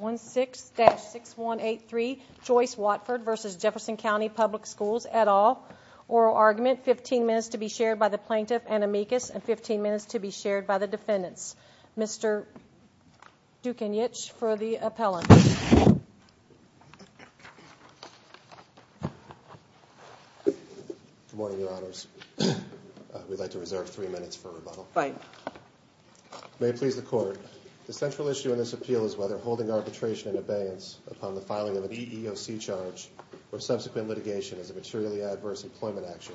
16-6183 Joyce Watford v. Jefferson County Public Schools et al. Oral argument 15 minutes to be shared by the plaintiff and amicus and 15 minutes to be shared by the defendants. Mr. Dukanyich for the appellant. Good morning your honors. We'd like to reserve three minutes for rebuttal. May it please the court. The central issue in this appeal is whether holding arbitration and abeyance upon the filing of an EEOC charge or subsequent litigation as a materially adverse employment action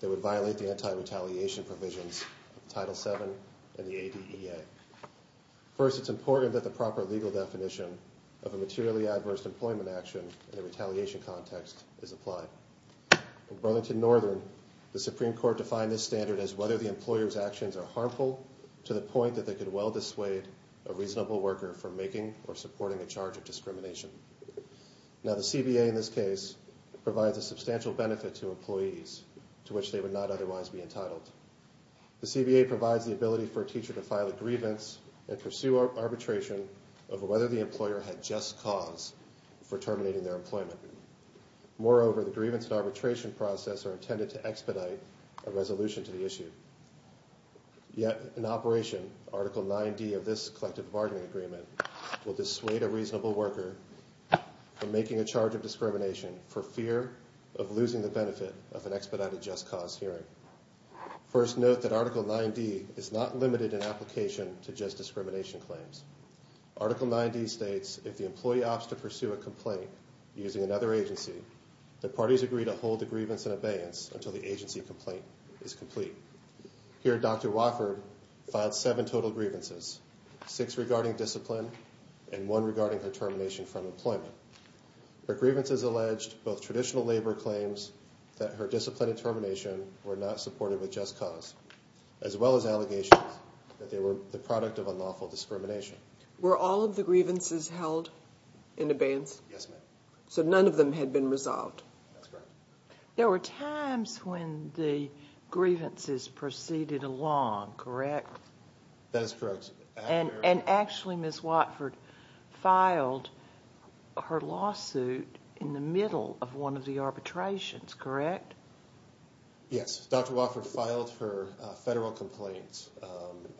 that would violate the anti-retaliation provisions of Title VII and the ADEA. First it's important that the proper legal definition of a materially adverse employment action in a retaliation context is applied. In Burlington Northern the Supreme Court defined this standard as whether the employer's actions are harmful to the point that they could well dissuade a teacher from making or supporting a charge of discrimination. Now the CBA in this case provides a substantial benefit to employees to which they would not otherwise be entitled. The CBA provides the ability for a teacher to file a grievance and pursue arbitration of whether the employer had just cause for terminating their employment. Moreover the grievance and arbitration process are intended to expedite a resolution to the issue. Yet in operation article 9d of this collective bargaining agreement will dissuade a reasonable worker from making a charge of discrimination for fear of losing the benefit of an expedited just cause hearing. First note that article 9d is not limited in application to just discrimination claims. Article 9d states if the employee opts to pursue a complaint using another agency the parties agree to hold the grievance and abeyance until the agency complaint is complete. Here Dr. Wofford filed seven total grievances, six regarding discipline and one regarding her termination from employment. Her grievances alleged both traditional labor claims that her discipline and termination were not supported with just cause as well as allegations that they were the product of unlawful discrimination. Were all of the grievances held in abeyance? Yes ma'am. So none of them had been resolved? There were times when the grievances proceeded along, correct? That is correct. And actually Ms. Wofford filed her lawsuit in the middle of one of the arbitrations, correct? Yes, Dr. Wofford filed her federal complaints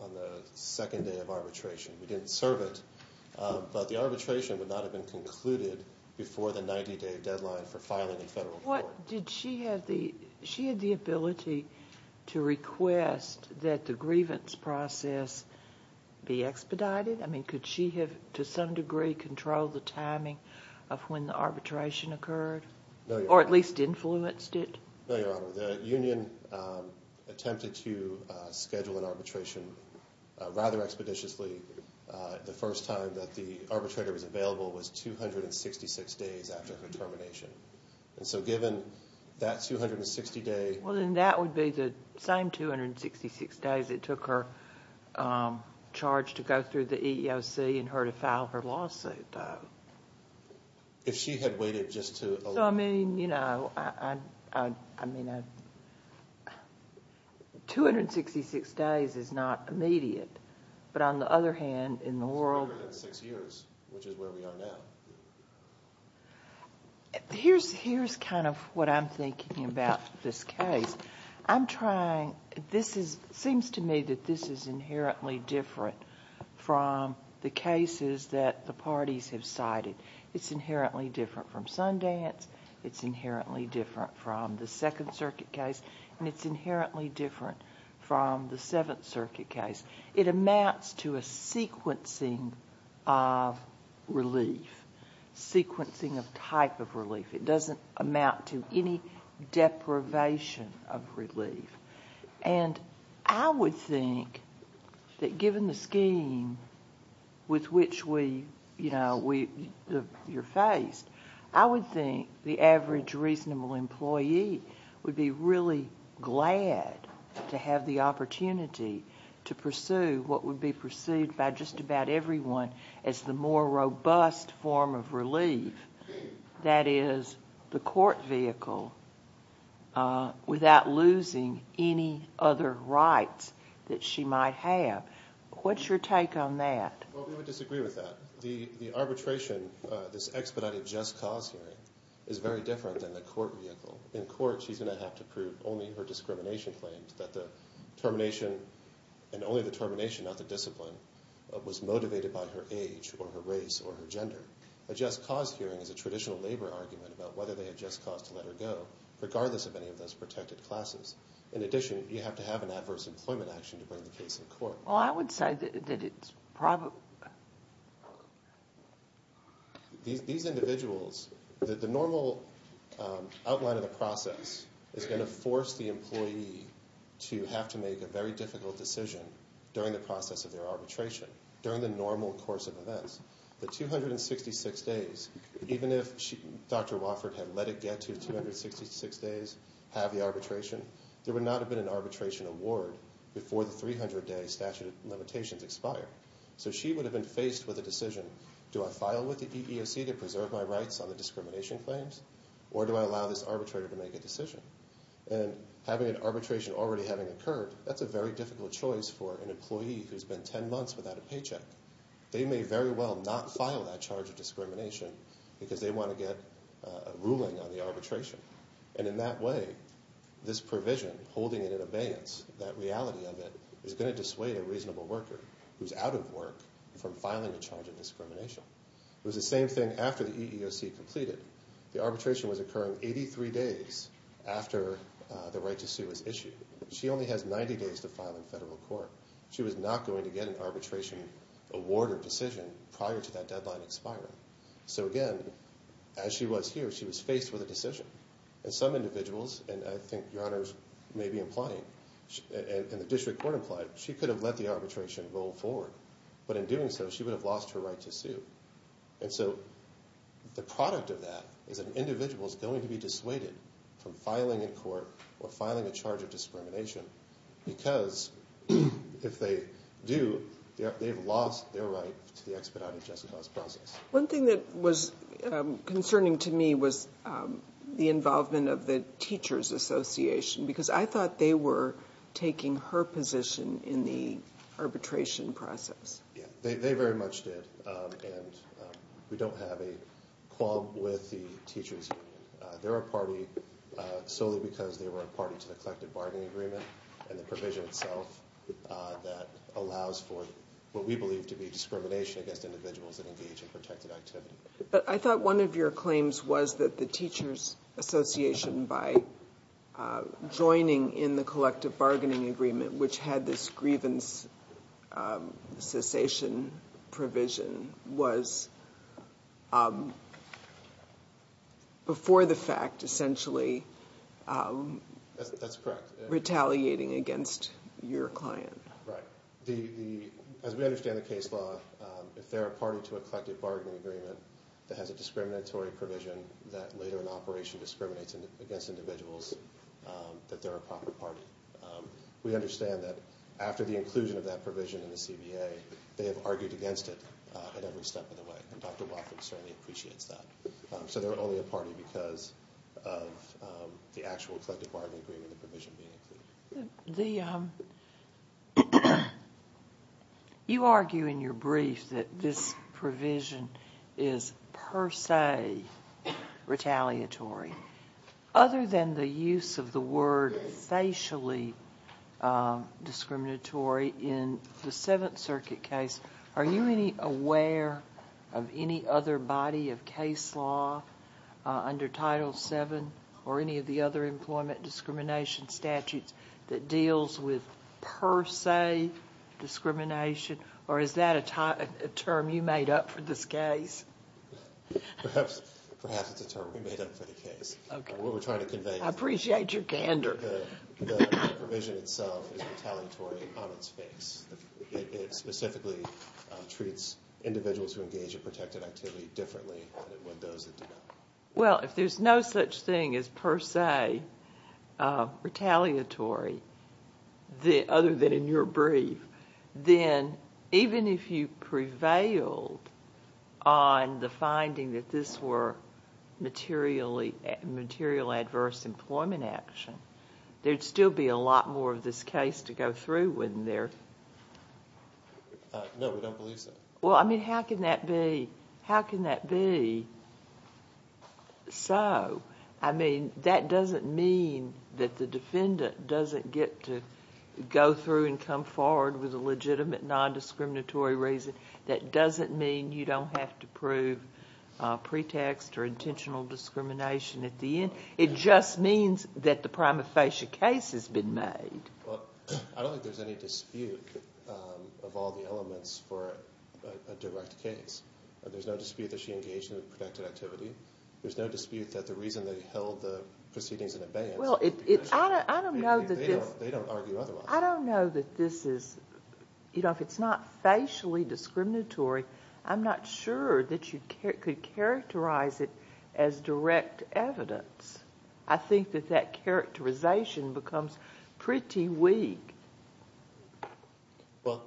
on the second day of arbitration. We didn't serve it but the arbitration would not have been concluded before the 90-day deadline for the grievance process be expedited? I mean could she have to some degree controlled the timing of when the arbitration occurred or at least influenced it? No, Your Honor. The union attempted to schedule an arbitration rather expeditiously. The first time that the arbitrator was available was 266 days after her termination and so given that 260 day... Well then that would be the same 266 days it took her charge to go through the EEOC and her to file her lawsuit. If she had waited just to... I mean you know I mean 266 days is not immediate but on the other hand in the world... It's longer than six years which is where we are now. Here's kind of what I'm thinking about this case. I'm trying... this is seems to me that this is inherently different from the cases that the parties have cited. It's inherently different from Sundance. It's inherently different from the Second Circuit case and it's inherently different from the Seventh Relief. Sequencing of type of relief. It doesn't amount to any deprivation of relief and I would think that given the scheme with which we, you know, we... you're faced, I would think the average reasonable employee would be really glad to have the opportunity to pursue what would be perceived by just about everyone as the more robust form of relief. That is the court vehicle without losing any other rights that she might have. What's your take on that? Well we would disagree with that. The arbitration, this expedited just cause hearing is very different than the court vehicle. In court she's going to have to prove only her discrimination claims that the termination and only the termination not the discipline was motivated by her age or her race or her gender. A just cause hearing is a traditional labor argument about whether they had just cause to let her go, regardless of any of those protected classes. In addition, you have to have an adverse employment action to bring the case in court. Well I would say that it's probably... These individuals, the normal outline of the process is going to force the arbitration during the normal course of events. The 266 days, even if Dr. Wofford had let it get to 266 days, have the arbitration, there would not have been an arbitration award before the 300 day statute of limitations expired. So she would have been faced with a decision. Do I file with the EEOC to preserve my rights on the discrimination claims or do I allow this arbitrator to make a decision? And having an arbitration already having occurred, that's a very long time, 10 months without a paycheck. They may very well not file that charge of discrimination because they want to get a ruling on the arbitration. And in that way, this provision holding it in abeyance, that reality of it, is going to dissuade a reasonable worker who's out of work from filing a charge of discrimination. It was the same thing after the EEOC completed. The arbitration was occurring 83 days after the right to sue was issued. She only has 90 days to get an arbitration award or decision prior to that deadline expiring. So again, as she was here, she was faced with a decision. And some individuals, and I think your honors may be implying, and the district court implied, she could have let the arbitration roll forward. But in doing so, she would have lost her right to sue. And so the product of that is an individual is going to be dissuaded from filing in court or filing a charge of discrimination because if they do, they've lost their right to the expedited just cause process. One thing that was concerning to me was the involvement of the Teachers Association because I thought they were taking her position in the arbitration process. Yeah, they very much did. And we don't have a quorum with the teachers. They're a party solely because they were a party to the collective bargaining agreement and the provision itself that allows for what we believe to be discrimination against individuals that engage in protected activity. But I thought one of your claims was that the Teachers Association, by joining in the collective bargaining agreement, which had this grievance cessation provision, was, before the fact, essentially retaliating against your client. Right. As we understand the case law, if they're a party to a collective bargaining agreement that has a discriminatory provision that later in operation discriminates against individuals, that they're a proper party. We understand that after the inclusion of that provision in the CBA, they have argued against it at every step of the way. And Dr. Wofford certainly appreciates that. So they're only a party because of the actual collective bargaining agreement and the provision being included. You argue in your brief that this provision is per se retaliatory. Other than the use of the word facially discriminatory in the Seventh Circuit case, are you any aware of any other body of case law under Title VII or any of the other employment discrimination statutes that deals with per se discrimination? Or is that a term you made up for this case? Perhaps it's a term we made up for the case. I appreciate your candor. The provision itself is retaliatory on its face. It specifically treats individuals who engage in protected activity differently than it would those that do not. Well, if there's no such thing as per se retaliatory, other than in your brief, then even if you prevailed on the finding that this were material adverse employment action, there'd still be a lot more of this case to go through. No, we don't believe so. Well, I mean, how can that be so? I mean, that doesn't mean that the defendant doesn't get to go through and come forward with a legitimate non-discriminatory reason. That doesn't mean you don't have to prove pretext or intentional discrimination at the end. It just means that the prima facie case has been made. Well, I don't think there's any dispute of all the elements for a direct case. There's no dispute that she engaged in protected activity. There's no dispute that the reason they held the proceedings in abeyance... Well, I don't know that this... They don't argue otherwise. I don't know that this is... You know, if it's not facially discriminatory, I'm not sure that you could characterize it as direct evidence. I think that that characterization becomes pretty weak. Well,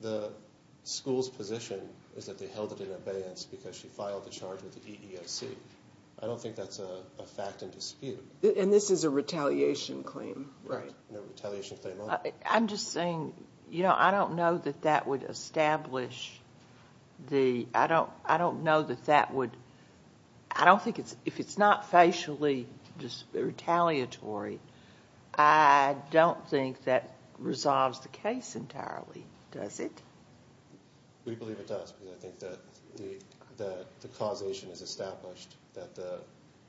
the school's position is that they held it in abeyance because she filed the charge with the EEOC. I don't think that's a fact and dispute. And this is a retaliation claim, right? I'm just saying, you know, I don't know that that would establish the... I don't know that that would... I don't think it's... If it's not facially retaliatory, I don't think that resolves the case entirely, does it? We believe it does because I think that the causation is established that the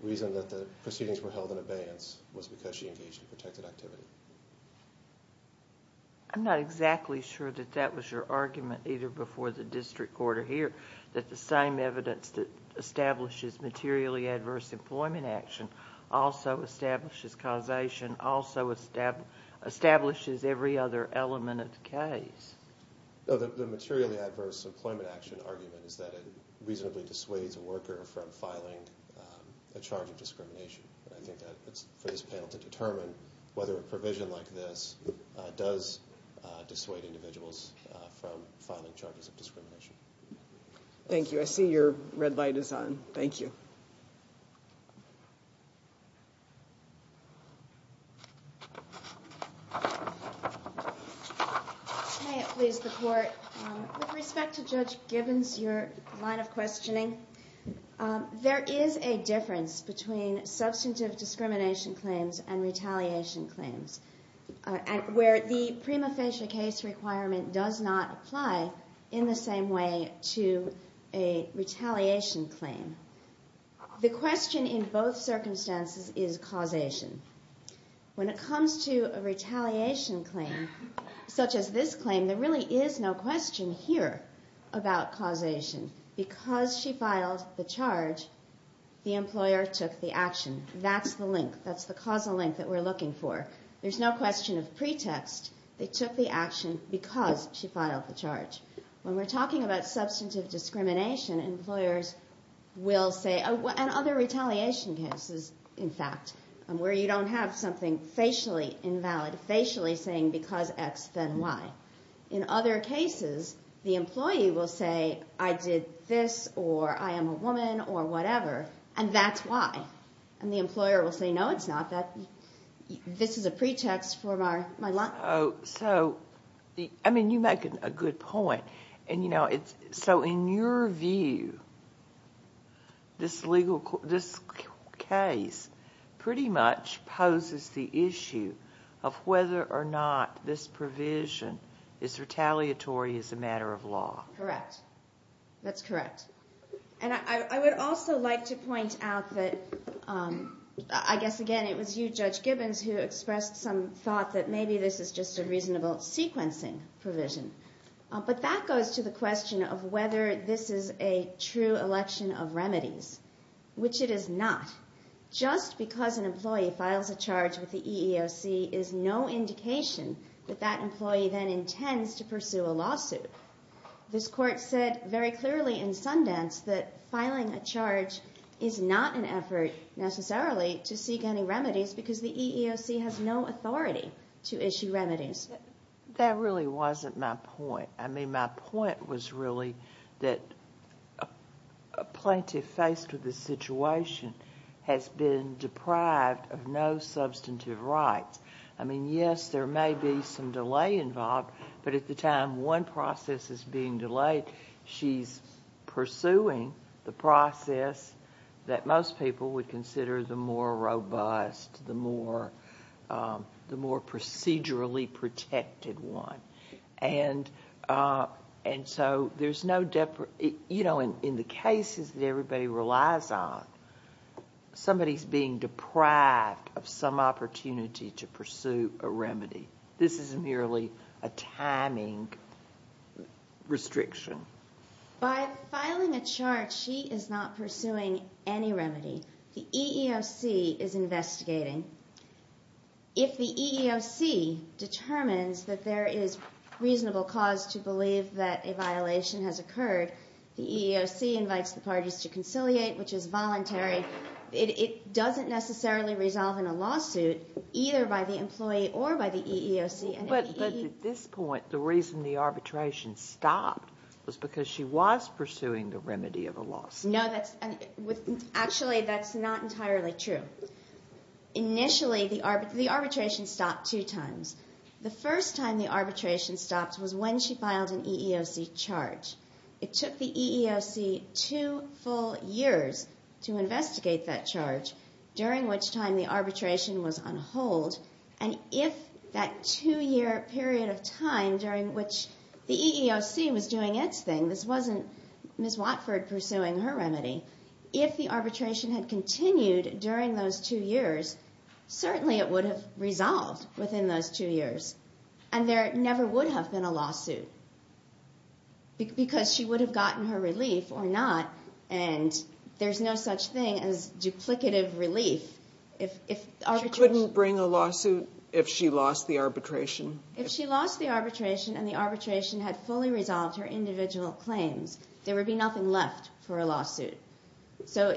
reason that the proceedings were held in abeyance was because she engaged in protected activity. I'm not exactly sure that that was your argument either before the district court or here, that the same evidence that establishes materially adverse employment action also establishes causation, also establishes every other element of the case. No, the materially adverse employment action argument is that it reasonably dissuades a worker from filing a charge of discrimination. I think that it's for this panel to determine whether a provision like this does dissuade individuals from filing charges of discrimination. Thank you. I see your red light is on. Thank you. May it please the court, with respect to Judge Gibbons, your line of questioning, there is a difference between substantive discrimination claims and retaliation claims, where the prima facie case requirement does not apply in the same way to a retaliation claim. The question in both circumstances is causation. When it comes to a retaliation claim, such as this claim, there really is no question here about causation. Because she filed the charge, the employer took the action. That's the causal link that we're looking for. There's no question of pretext. They took the action because she filed the charge. When we're talking about substantive discrimination, employers will say, and other retaliation cases, in fact, where you don't have something facially invalid, facially saying because X, then Y. In other cases, the employee will say, I did this, or I am a woman, or whatever, and that's why. And the employer will say, no, it's not. This is a pretext for my line. I mean, you make a good point. So in your view, this case pretty much poses the issue of whether or not this provision is retaliatory as a matter of law. Correct. That's correct. And I would also like to point out that, I guess, again, it was you, Judge Gibbons, who expressed some thought that maybe this is just a reasonable sequencing provision. But that goes to the question of whether this is a true election of remedies, which it is not. Just because an employee files a charge with the EEOC is no indication that that employee then intends to pursue a lawsuit. This Court said very clearly in Sundance that filing a charge is not an effort, necessarily, to seek any remedies because the EEOC has no authority to issue remedies. That really wasn't my point. I mean, my point was really that a plaintiff faced with this situation has been deprived of no substantive rights. I mean, yes, there may be some delay involved, but at the time one process is being delayed, she's pursuing the process that most people would consider the more robust, the more procedurally protected one. And so there's no—you know, in the cases that everybody relies on, somebody's being deprived of some opportunity to pursue a remedy. This is merely a timing restriction. By filing a charge, she is not pursuing any remedy. The EEOC is investigating. If the EEOC determines that there is reasonable cause to believe that a violation has occurred, the EEOC invites the parties to conciliate, which is voluntary. It doesn't necessarily resolve in a lawsuit, either by the employee or by the EEOC. But at this point, the reason the arbitration stopped was because she was pursuing the remedy of a lawsuit. No, that's—actually, that's not entirely true. Initially, the arbitration stopped two times. The first time the arbitration stopped was when she filed an EEOC charge. It took the EEOC two full years to investigate that charge, during which time the arbitration was on hold. And if that two-year period of time during which the EEOC was doing its thing—this wasn't Ms. Watford pursuing her remedy—if the arbitration had continued during those two years, certainly it would have resolved within those two years. And there never would have been a lawsuit, because she would have gotten her relief or not, and there's no such thing as duplicative relief if arbitration— She couldn't bring a lawsuit if she lost the arbitration? If she lost the arbitration and the arbitration had fully resolved her individual claims, there would be nothing left for a lawsuit. So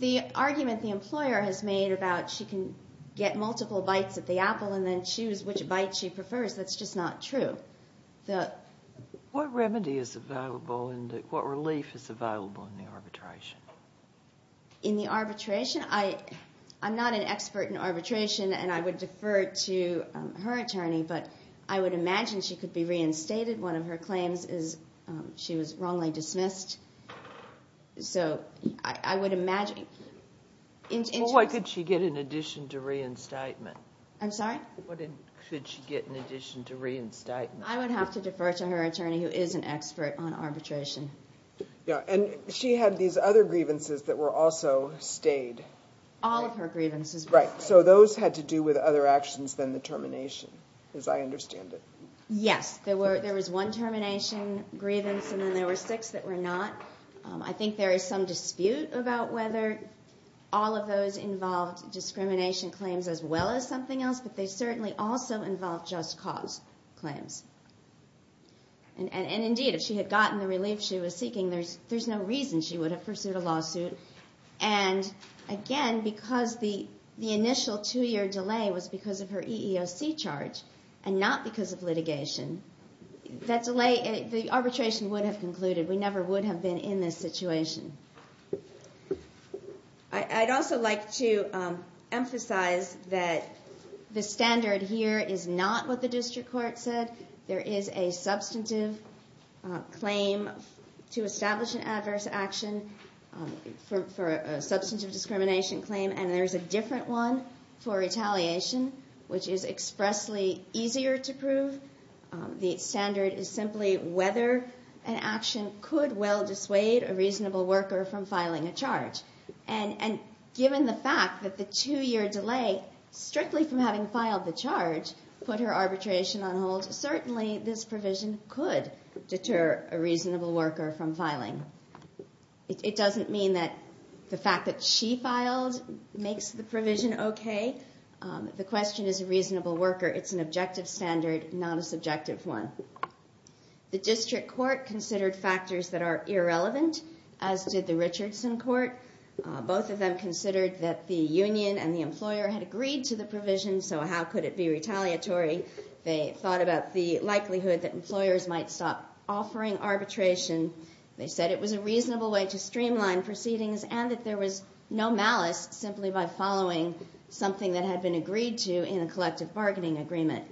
the argument the employer has made about she can get multiple bites at the apple and then choose which bite she prefers, that's just not true. What remedy is available and what relief is available in the arbitration? In the arbitration? I'm not an expert in arbitration, and I would defer to her attorney, but I would imagine she could be reinstated. One of her claims is she was wrongly dismissed. So I would imagine— Well, what could she get in addition to reinstatement? I'm sorry? What could she get in addition to reinstatement? I would have to defer to her attorney, who is an expert on arbitration. And she had these other grievances that were also stayed. All of her grievances. Right. So those had to do with other actions than the termination, as I understand it. Yes. There was one termination grievance, and then there were six that were not. I think there is some dispute about whether all of those involved discrimination claims as well as something else, but they certainly also involved just cause claims. And indeed, if she had gotten the relief she was seeking, there's no reason she would have pursued a lawsuit. And again, because the initial two-year delay was because of her EEOC charge and not because of litigation, the arbitration would have concluded. We never would have been in this situation. I'd also like to emphasize that the standard here is not what the district court said. There is a substantive claim to establish an adverse action for a substantive discrimination claim, and there is a different one for retaliation, which is expressly easier to prove. The standard is simply whether an action could well dissuade a reasonable worker from filing a charge. And given the fact that the two-year delay, strictly from having filed the charge, put her arbitration on hold, certainly this provision could deter a reasonable worker from filing. It doesn't mean that the fact that she filed makes the provision okay. The question is a reasonable worker. It's an objective standard, not a subjective one. The district court considered factors that are irrelevant, as did the Richardson court. Both of them considered that the union and the employer had agreed to the provision, so how could it be retaliatory? They thought about the likelihood that employers might stop offering arbitration. They said it was a reasonable way to streamline proceedings and that there was no malice simply by following something that had been agreed to in a collective bargaining agreement.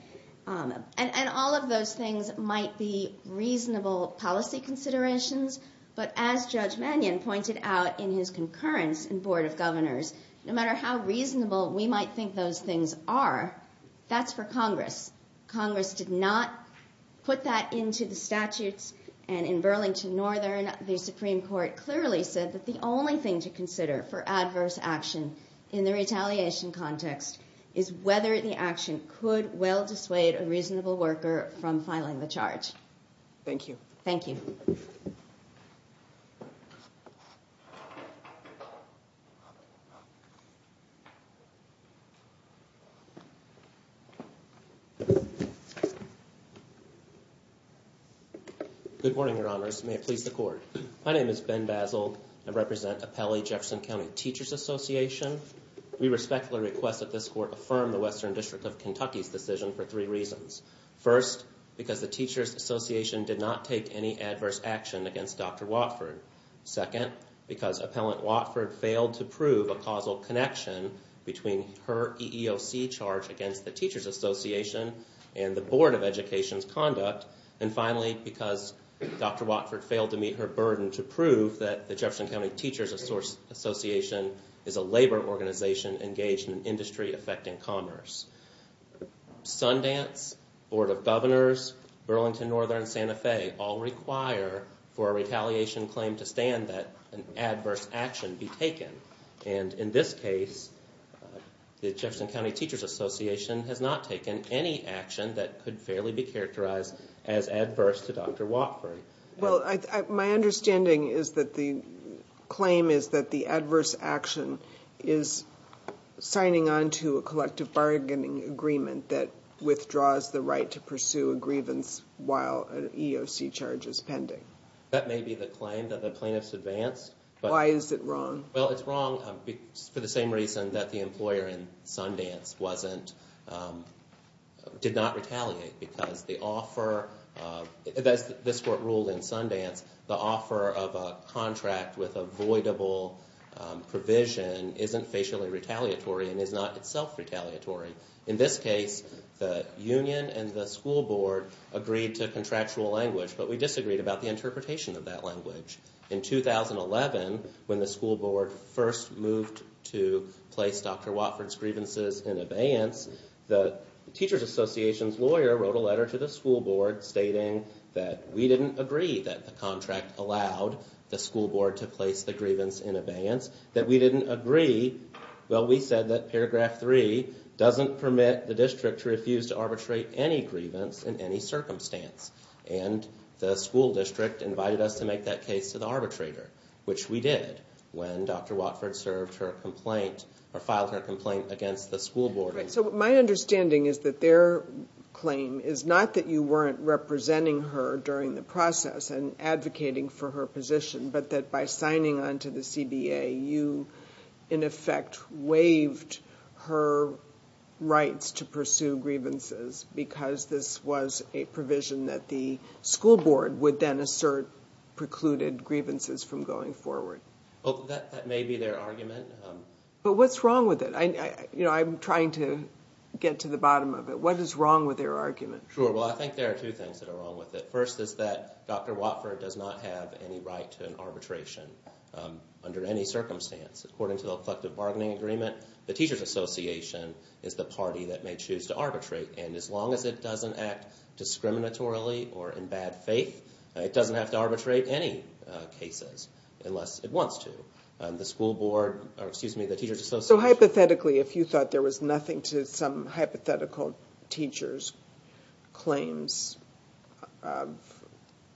And all of those things might be reasonable policy considerations, but as Judge Mannion pointed out in his concurrence in Board of Governors, no matter how reasonable we might think those things are, that's for Congress. Congress did not put that into the statutes, and in Burlington Northern, the Supreme Court clearly said that the only thing to consider for adverse action in the retaliation context is whether the action could well dissuade a reasonable worker from filing the charge. Thank you. Thank you. Good morning, Your Honors. May it please the Court. My name is Ben Basil. I represent Appellee Jefferson County Teachers Association. We respectfully request that this Court affirm the Western District of Kentucky's decision for three reasons. First, because the Teachers Association did not take any adverse action against Dr. Watford. Second, because Appellant Watford failed to prove a causal connection between her EEOC charge against the Teachers Association and the Board of Education's conduct. And finally, because Dr. Watford failed to meet her burden to prove that the Jefferson County Teachers Association is a labor organization engaged in industry affecting commerce. Sundance, Board of Governors, Burlington Northern, and Santa Fe all require for a retaliation claim to stand that an adverse action be taken. And in this case, the Jefferson County Teachers Association has not taken any action that could fairly be characterized as adverse to Dr. Watford. Well, my understanding is that the claim is that the adverse action is signing on to a collective bargaining agreement that withdraws the right to pursue a grievance while an EEOC charge is pending. That may be the claim that the plaintiffs advanced. Why is it wrong? Well, it's wrong for the same reason that the employer in Sundance did not retaliate. Because the offer, as this court ruled in Sundance, the offer of a contract with avoidable provision isn't facially retaliatory and is not itself retaliatory. In this case, the union and the school board agreed to contractual language, but we disagreed about the interpretation of that language. In 2011, when the school board first moved to place Dr. Watford's grievances in abeyance, the Teachers Association's lawyer wrote a letter to the school board stating that we didn't agree that the contract allowed the school board to place the grievance in abeyance. That we didn't agree, well, we said that paragraph three doesn't permit the district to refuse to arbitrate any grievance in any circumstance. And the school district invited us to make that case to the arbitrator, which we did when Dr. Watford served her complaint or filed her complaint against the school board. Right, so my understanding is that their claim is not that you weren't representing her during the process and advocating for her position, but that by signing on to the CBA, you in effect waived her rights to pursue grievances. Because this was a provision that the school board would then assert precluded grievances from going forward. That may be their argument. But what's wrong with it? I'm trying to get to the bottom of it. What is wrong with their argument? Sure, well, I think there are two things that are wrong with it. First is that Dr. Watford does not have any right to an arbitration under any circumstance. According to the Collective Bargaining Agreement, the Teachers Association is the party that may choose to arbitrate. And as long as it doesn't act discriminatorily or in bad faith, it doesn't have to arbitrate any cases unless it wants to. So hypothetically, if you thought there was nothing to some hypothetical teacher's claims of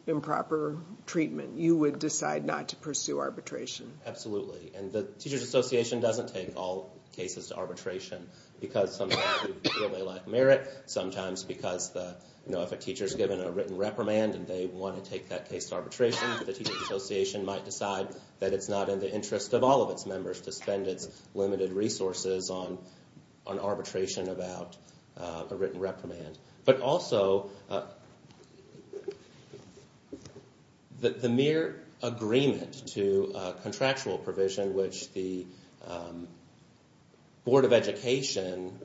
improper treatment, you would decide not to pursue arbitration? Absolutely. And the Teachers Association doesn't take all cases to arbitration. Because sometimes they lack merit, sometimes because if a teacher is given a written reprimand and they want to take that case to arbitration, the Teachers Association might decide that it's not in the interest of all of its members to spend its limited resources on arbitration about a written reprimand. But also, the mere agreement to contractual provision which the Board of Education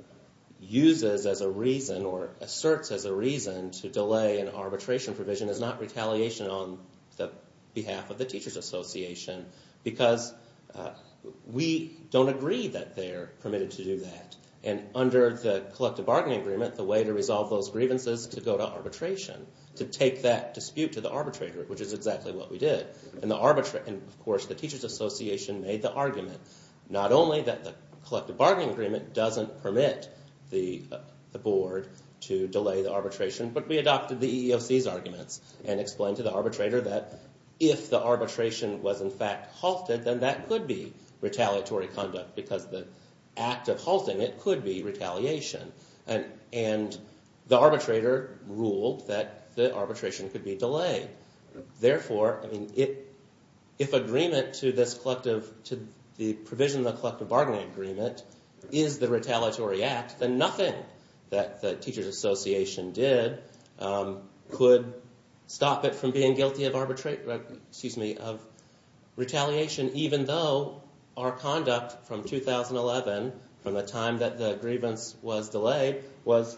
uses as a reason or asserts as a reason to delay an arbitration provision is not retaliation on behalf of the Teachers Association because we don't agree that they're permitted to do that. And under the Collective Bargaining Agreement, the way to resolve those grievances is to go to arbitration, to take that dispute to the arbitrator, which is exactly what we did. And of course, the Teachers Association made the argument not only that the Collective Bargaining Agreement doesn't permit the board to delay the arbitration, but we adopted the EEOC's arguments and explained to the arbitrator that if the arbitration was in fact halted, then that could be retaliatory conduct because the act of halting it could be retaliation. And the arbitrator ruled that the arbitration could be delayed. Therefore, if agreement to the provision of the Collective Bargaining Agreement is the retaliatory act, then nothing that the Teachers Association did could stop it from being guilty of retaliation even though our conduct from 2011, from the time that the grievance was delayed, was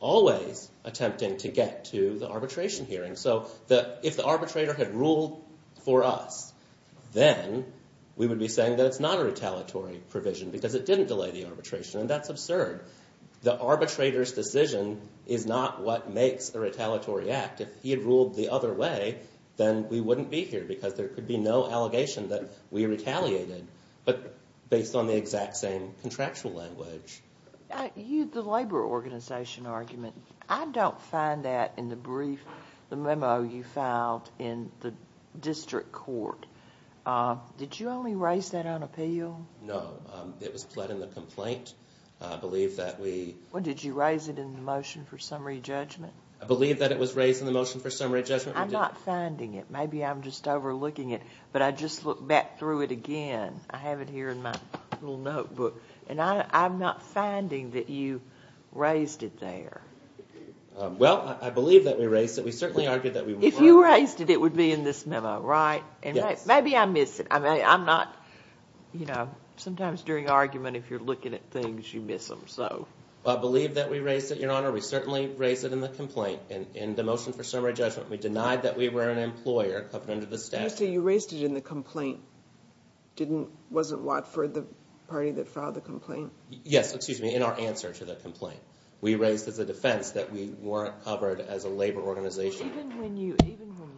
always attempting to get to the arbitration hearing. So if the arbitrator had ruled for us, then we would be saying that it's not a retaliatory provision because it didn't delay the arbitration. And that's absurd. The arbitrator's decision is not what makes a retaliatory act. If he had ruled the other way, then we wouldn't be here because there could be no allegation that we retaliated, but based on the exact same contractual language. The labor organization argument, I don't find that in the brief, the memo you filed in the district court. Did you only raise that on appeal? No. It was pled in the complaint. I believe that we Well, did you raise it in the motion for summary judgment? I believe that it was raised in the motion for summary judgment. I'm not finding it. Maybe I'm just overlooking it, but I just looked back through it again. I have it here in my little notebook, and I'm not finding that you raised it there. Well, I believe that we raised it. We certainly argued that we If you raised it, it would be in this memo, right? Yes. Maybe I missed it. I'm not, you know, sometimes during argument, if you're looking at things, you miss them, so I believe that we raised it, Your Honor. We certainly raised it in the complaint. In the motion for summary judgment, we denied that we were an employer covered under the statute. You raised it in the complaint. Wasn't Watford the party that filed the complaint? Yes, excuse me, in our answer to the complaint. We raised as a defense that we weren't covered as a labor organization. Even when you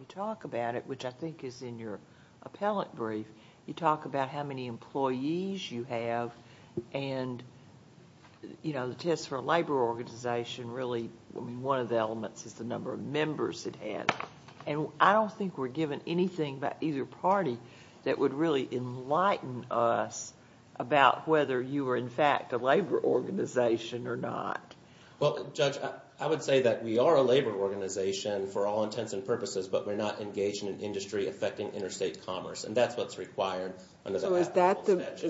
talk about it, which I think is in your appellate brief, you talk about how many employees you have, and, you know, the test for a labor organization really, I mean, one of the elements is the number of members it had. And I don't think we're given anything by either party that would really enlighten us about whether you were, in fact, a labor organization or not. Well, Judge, I would say that we are a labor organization for all intents and purposes, but we're not engaged in an industry affecting interstate commerce, and that's what's required. So is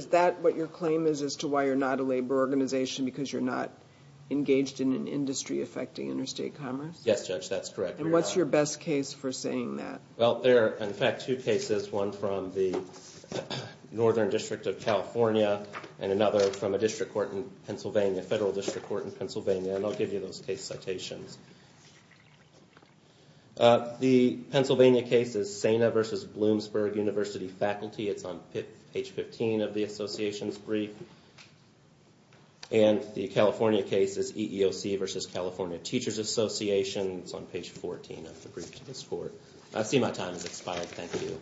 that what your claim is as to why you're not a labor organization, because you're not engaged in an industry affecting interstate commerce? Yes, Judge, that's correct. And what's your best case for saying that? Well, there are, in fact, two cases, one from the Northern District of California and another from a district court in Pennsylvania, a federal district court in Pennsylvania, and I'll give you those case citations. The Pennsylvania case is Saina v. Bloomsburg University Faculty. It's on page 15 of the association's brief. And the California case is EEOC v. California Teachers Association. It's on page 14 of the brief to this court. I see my time has expired. Thank you.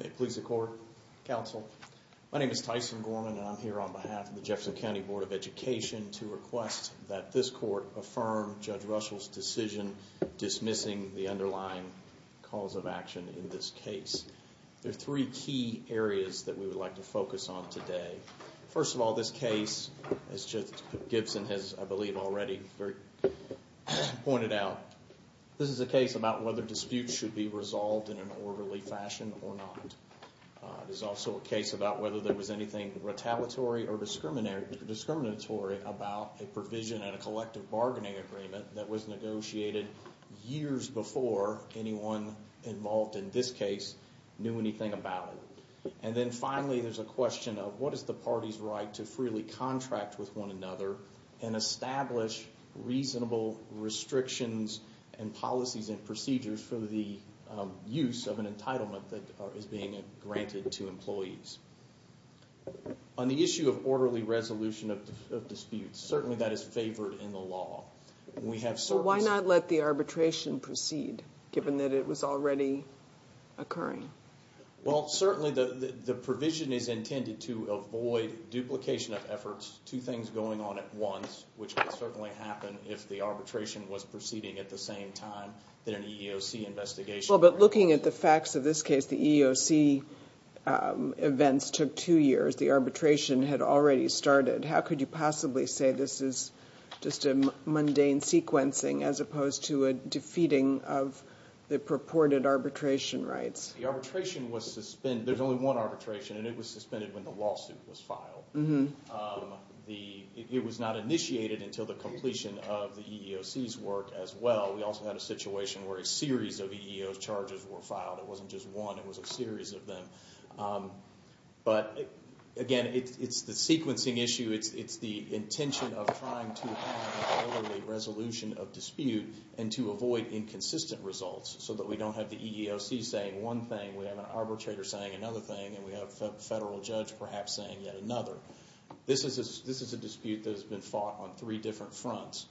May it please the Court, Counsel. My name is Tyson Gorman, and I'm here on behalf of the Jefferson County Board of Education to request that this court affirm Judge Russell's decision dismissing the underlying cause of action in this case. There are three key areas that we would like to focus on today. First of all, this case, as Judge Gibson has, I believe, already pointed out, this is a case about whether disputes should be resolved in an orderly fashion or not. It is also a case about whether there was anything retaliatory or discriminatory about a provision in a collective bargaining agreement that was negotiated years before anyone involved in this case knew anything about it. And then finally, there's a question of what is the party's right to freely contract with one another and establish reasonable restrictions and policies and procedures for the use of an entitlement that is being granted to employees. On the issue of orderly resolution of disputes, certainly that is favored in the law. We have certain... Well, why not let the arbitration proceed, given that it was already occurring? Well, certainly the provision is intended to avoid duplication of efforts, two things going on at once, which could certainly happen if the arbitration was proceeding at the same time than an EEOC investigation. Well, but looking at the facts of this case, the EEOC events took two years. The arbitration had already started. How could you possibly say this is just a mundane sequencing as opposed to a defeating of the purported arbitration rights? The arbitration was suspended. There's only one arbitration, and it was suspended when the lawsuit was filed. It was not initiated until the completion of the EEOC's work as well. We also had a situation where a series of EEO charges were filed. It wasn't just one. It was a series of them. But again, it's the sequencing issue. It's the intention of trying to have an orderly resolution of dispute and to avoid inconsistent results so that we don't have the EEOC saying one thing, we have an arbitrator saying another thing, and we have a federal judge perhaps saying yet another. This is a dispute that has been fought on three different fronts,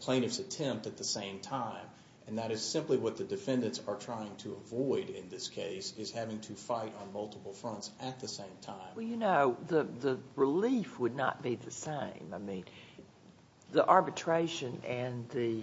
plaintiff's attempt at the same time, and that is simply what the defendants are trying to avoid in this case, is having to fight on multiple fronts at the same time. Well, you know, the relief would not be the same. The arbitration and the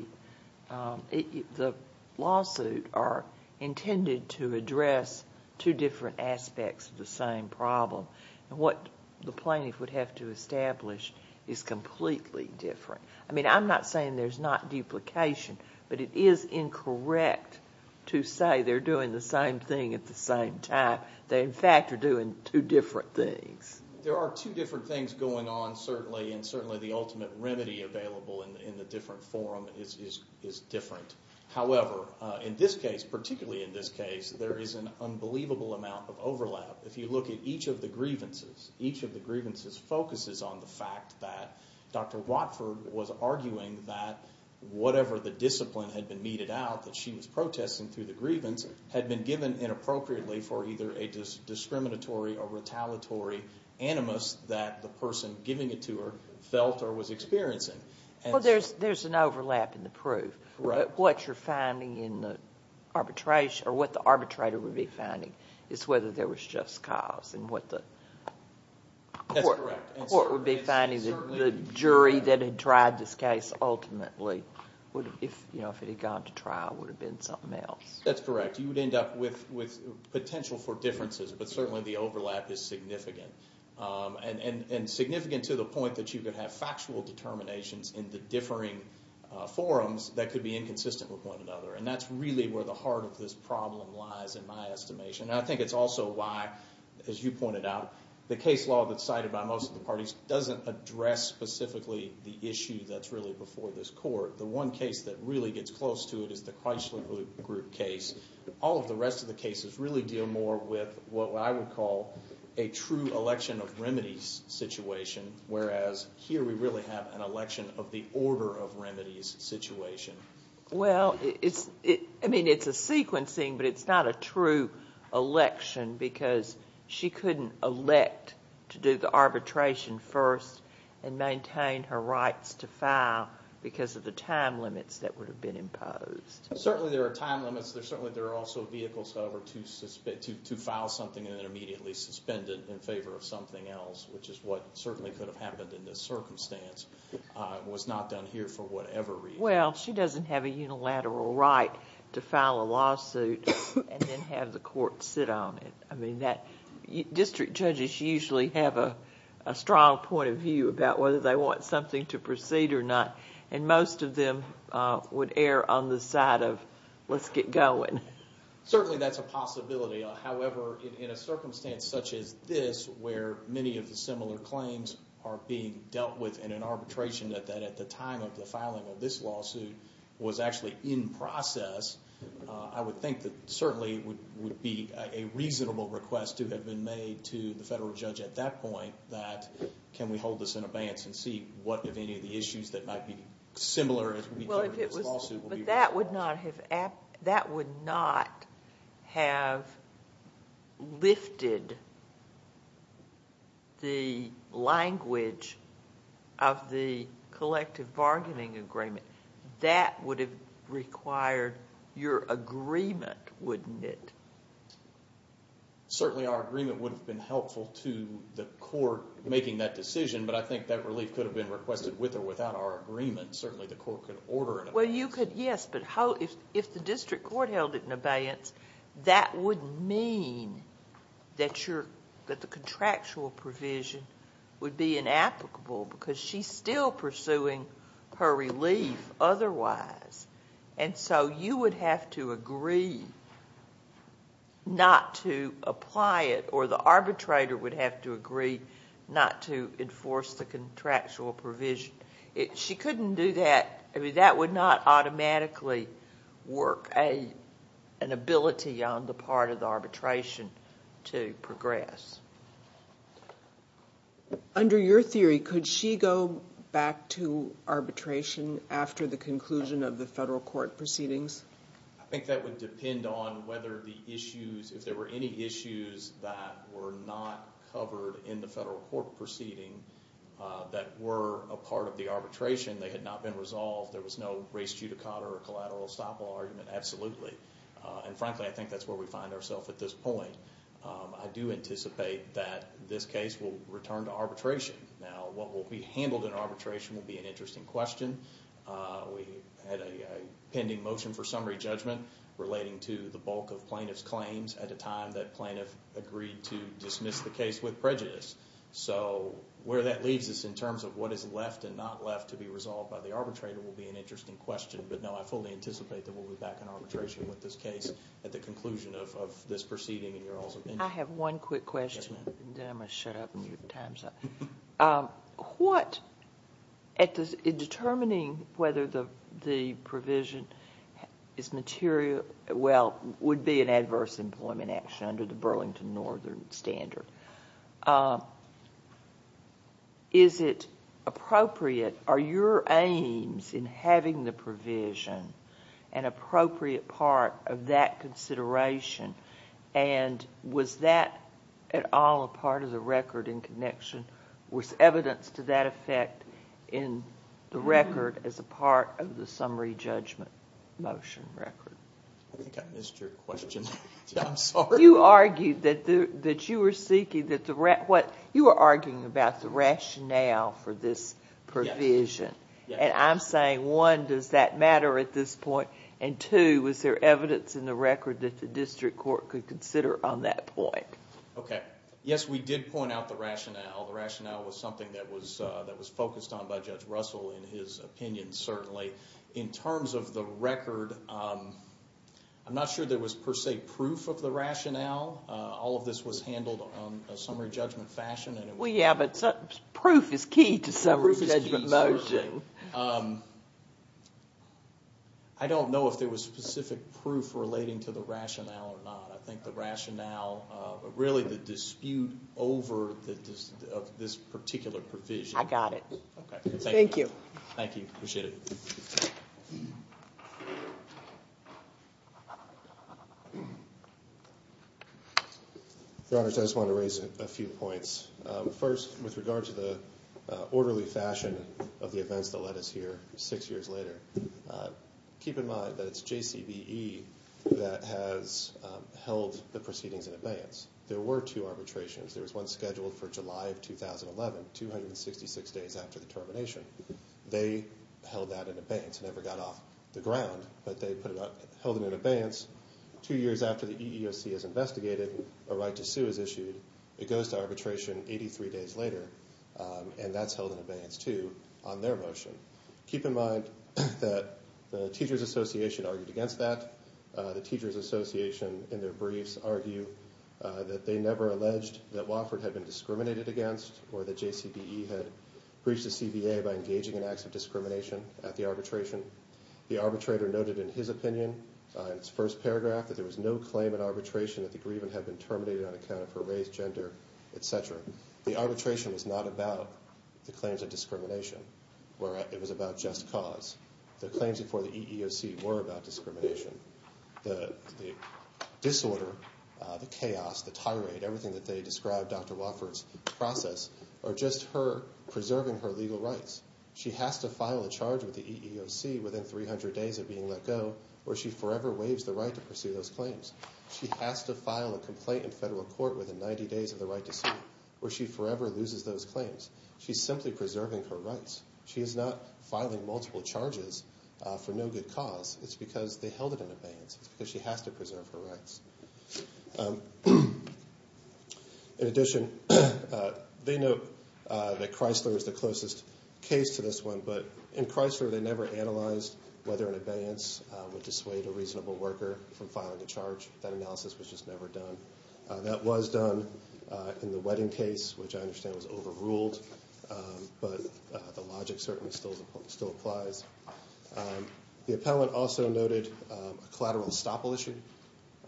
lawsuit are intended to address two different aspects of the same problem, and what the plaintiff would have to establish is completely different. I mean, I'm not saying there's not duplication, but it is incorrect to say they're doing the same thing at the same time. They, in fact, are doing two different things. There are two different things going on, certainly, and certainly the ultimate remedy available in the different forum is different. However, in this case, particularly in this case, there is an unbelievable amount of overlap. If you look at each of the grievances, each of the grievances focuses on the fact that Dr. Watford was arguing that whatever the discipline had been meted out that she was protesting through the grievance had been given inappropriately for either a discriminatory or retaliatory animus that the person giving it to her felt or was experiencing. Well, there's an overlap in the proof. What you're finding in the arbitration, or what the arbitrator would be finding, is whether there was just cause and what the court would be finding. The jury that had tried this case ultimately, if it had gone to trial, would have been something else. That's correct. You would end up with potential for differences, but certainly the overlap is significant, and significant to the point that you could have factual determinations in the differing forums that could be inconsistent with one another. That's really where the heart of this problem lies in my estimation. I think it's also why, as you pointed out, the case law that's cited by most of the parties doesn't address specifically the issue that's really before this court. The one case that really gets close to it is the Chrysler Group case. All of the rest of the cases really deal more with what I would call a true election of remedies situation, whereas here we really have an election of the order of remedies situation. Well, I mean, it's a sequencing, but it's not a true election because she couldn't elect to do the arbitration first and maintain her rights to file because of the time limits that would have been imposed. Certainly there are time limits. Certainly there are also vehicles, however, to file something and then immediately suspend it in favor of something else, which is what certainly could have happened in this circumstance. It was not done here for whatever reason. Well, she doesn't have a unilateral right to file a lawsuit and then have the court sit on it. District judges usually have a strong point of view about whether they want something to proceed or not, and most of them would err on the side of, let's get going. Certainly that's a possibility, however, in a circumstance such as this where many of the similar claims are being dealt with in an arbitration that at the time of the filing of this lawsuit was actually in process, I would think that certainly it would be a reasonable request to have been made to the federal judge at that point that can we hold this in abeyance and see what, if any, of the issues that might be similar as we do in this lawsuit will be resolved. But that would not have lifted the language of the collective bargaining agreement. That would have required your agreement, wouldn't it? Certainly our agreement would have been helpful to the court making that decision, but I think that relief could have been requested with or without our agreement. Certainly the court could order an abeyance. Well, you could, yes, but if the district court held it in abeyance, that would mean that the contractual provision would be inapplicable because she's still pursuing her relief otherwise, and so you would have to agree not to apply it or the arbitrator would have to agree not to enforce the contractual provision. She couldn't do that. That would not automatically work an ability on the part of the arbitration to progress. Under your theory, could she go back to arbitration after the conclusion of the federal court proceedings? I think that would depend on whether the issues, if there were any issues that were not covered in the federal court proceeding that were a part of the arbitration, they had not been resolved, there was no race judicata or collateral estoppel argument, absolutely. And frankly, I think that's where we find ourselves at this point. I do anticipate that this case will return to arbitration. Now, what will be handled in arbitration will be an interesting question. We had a pending motion for summary judgment relating to the bulk of plaintiff's claims at a time that plaintiff agreed to dismiss the case with prejudice. So where that leaves us in terms of what is left and not left to be resolved by the arbitrator will be an interesting question, but no, I fully anticipate that we'll be back in arbitration with this case at the conclusion of this proceeding. I have one quick question. Then I'm going to shut up and your time's up. What, in determining whether the provision is material, well, would be an adverse employment action under the Burlington Northern Standard, is it appropriate, are your aims in having the provision an appropriate part of that consideration? And was that at all a part of the record in connection with evidence to that effect in the record as a part of the summary judgment motion record? I think I missed your question. I'm sorry. You argued that you were seeking, you were arguing about the rationale for this provision. And I'm saying, one, does that matter at this point, and two, was there evidence in the record that the district court could consider on that point? Okay. Yes, we did point out the rationale. The rationale was something that was focused on by Judge Russell in his opinion, certainly. In terms of the record, I'm not sure there was per se proof of the rationale. All of this was handled on a summary judgment fashion. Proof is key to summary judgment motion. I don't know if there was specific proof relating to the rationale or not. I think the rationale, really the dispute over this particular provision. I got it. Thank you. Thank you. Appreciate it. Your Honor, I just want to raise a few points. First, with regard to the orderly fashion of the events that led us here six years later, keep in mind that it's JCBE that has held the proceedings in advance. There were two arbitrations. There was one scheduled for July of 2011, 266 days after the termination. They held that in advance. It never got off the ground, but they held it in advance. Two years after the EEOC is investigated, a right to sue is issued. It goes to arbitration 83 days later, and that's held in advance too on their motion. Keep in mind that the Teachers Association argued against that. The Teachers Association in their briefs argue that they never alleged that Wofford had been discriminated against or that JCBE had breached the CBA by engaging in acts of discrimination at the arbitration. The arbitrator noted in his opinion, in his first paragraph, that there was no claim at arbitration that the grievance had been terminated on account of her race, gender, etc. The arbitration was not about the claims of discrimination. It was about just cause. The claims before the EEOC were about discrimination. The disorder, the chaos, the tirade, everything that they described Dr. Wofford's process are just her preserving her legal rights. She has to file a charge with the EEOC within 300 days of being let go or she forever waives the right to pursue those claims. She has to file a complaint in federal court within 90 days of the right to sue or she forever loses those claims. She's simply preserving her rights. She is not filing multiple charges for no good cause. It's because they held it in abeyance. It's because she has to preserve her rights. In addition, they note that Chrysler is the closest case to this one, but in Chrysler they never analyzed whether an abeyance would dissuade a reasonable worker from filing a charge. That analysis was just never done. That was done in the Wedding case, which I understand was overruled, but the logic certainly still applies. The appellant also noted a collateral estoppel issue.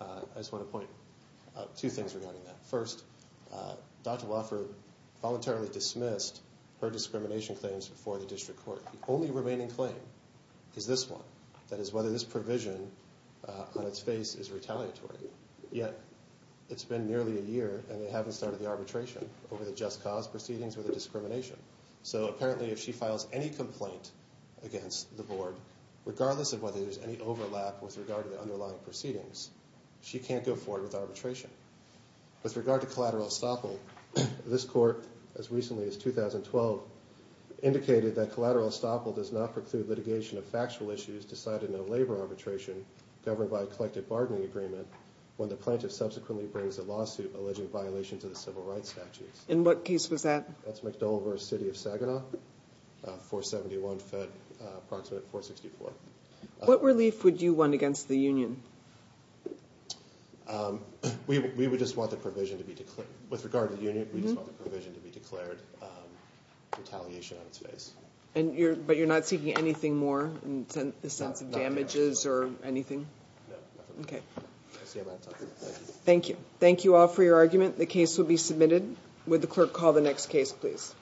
I just want to point out two things regarding that. First, Dr. Wofford voluntarily dismissed her discrimination claims before the district court. The only remaining claim is this one, that is whether this provision on its face is retaliatory. Yet it's been nearly a year and they haven't started the arbitration over the just cause proceedings or the discrimination. So apparently if she files any complaint against the board, regardless of whether there's any overlap with regard to the underlying proceedings, she can't go forward with arbitration. With regard to collateral estoppel, this court, as recently as 2012, indicated that collateral estoppel does not preclude litigation of factual issues decided in a labor arbitration governed by a collective bargaining agreement when the plaintiff subsequently brings a lawsuit alleging violation to the civil rights statutes. In what case was that? That's McDoule versus City of Saginaw, 471 Fed, approximate 464. What relief would you want against the union? We would just want the provision to be declared. With regard to the union, we just want the provision to be declared retaliation on its face. But you're not seeking anything more in the sense of damages or anything? No, nothing. Thank you. Thank you all for your argument. The case will be submitted. Would the clerk call the next case, please?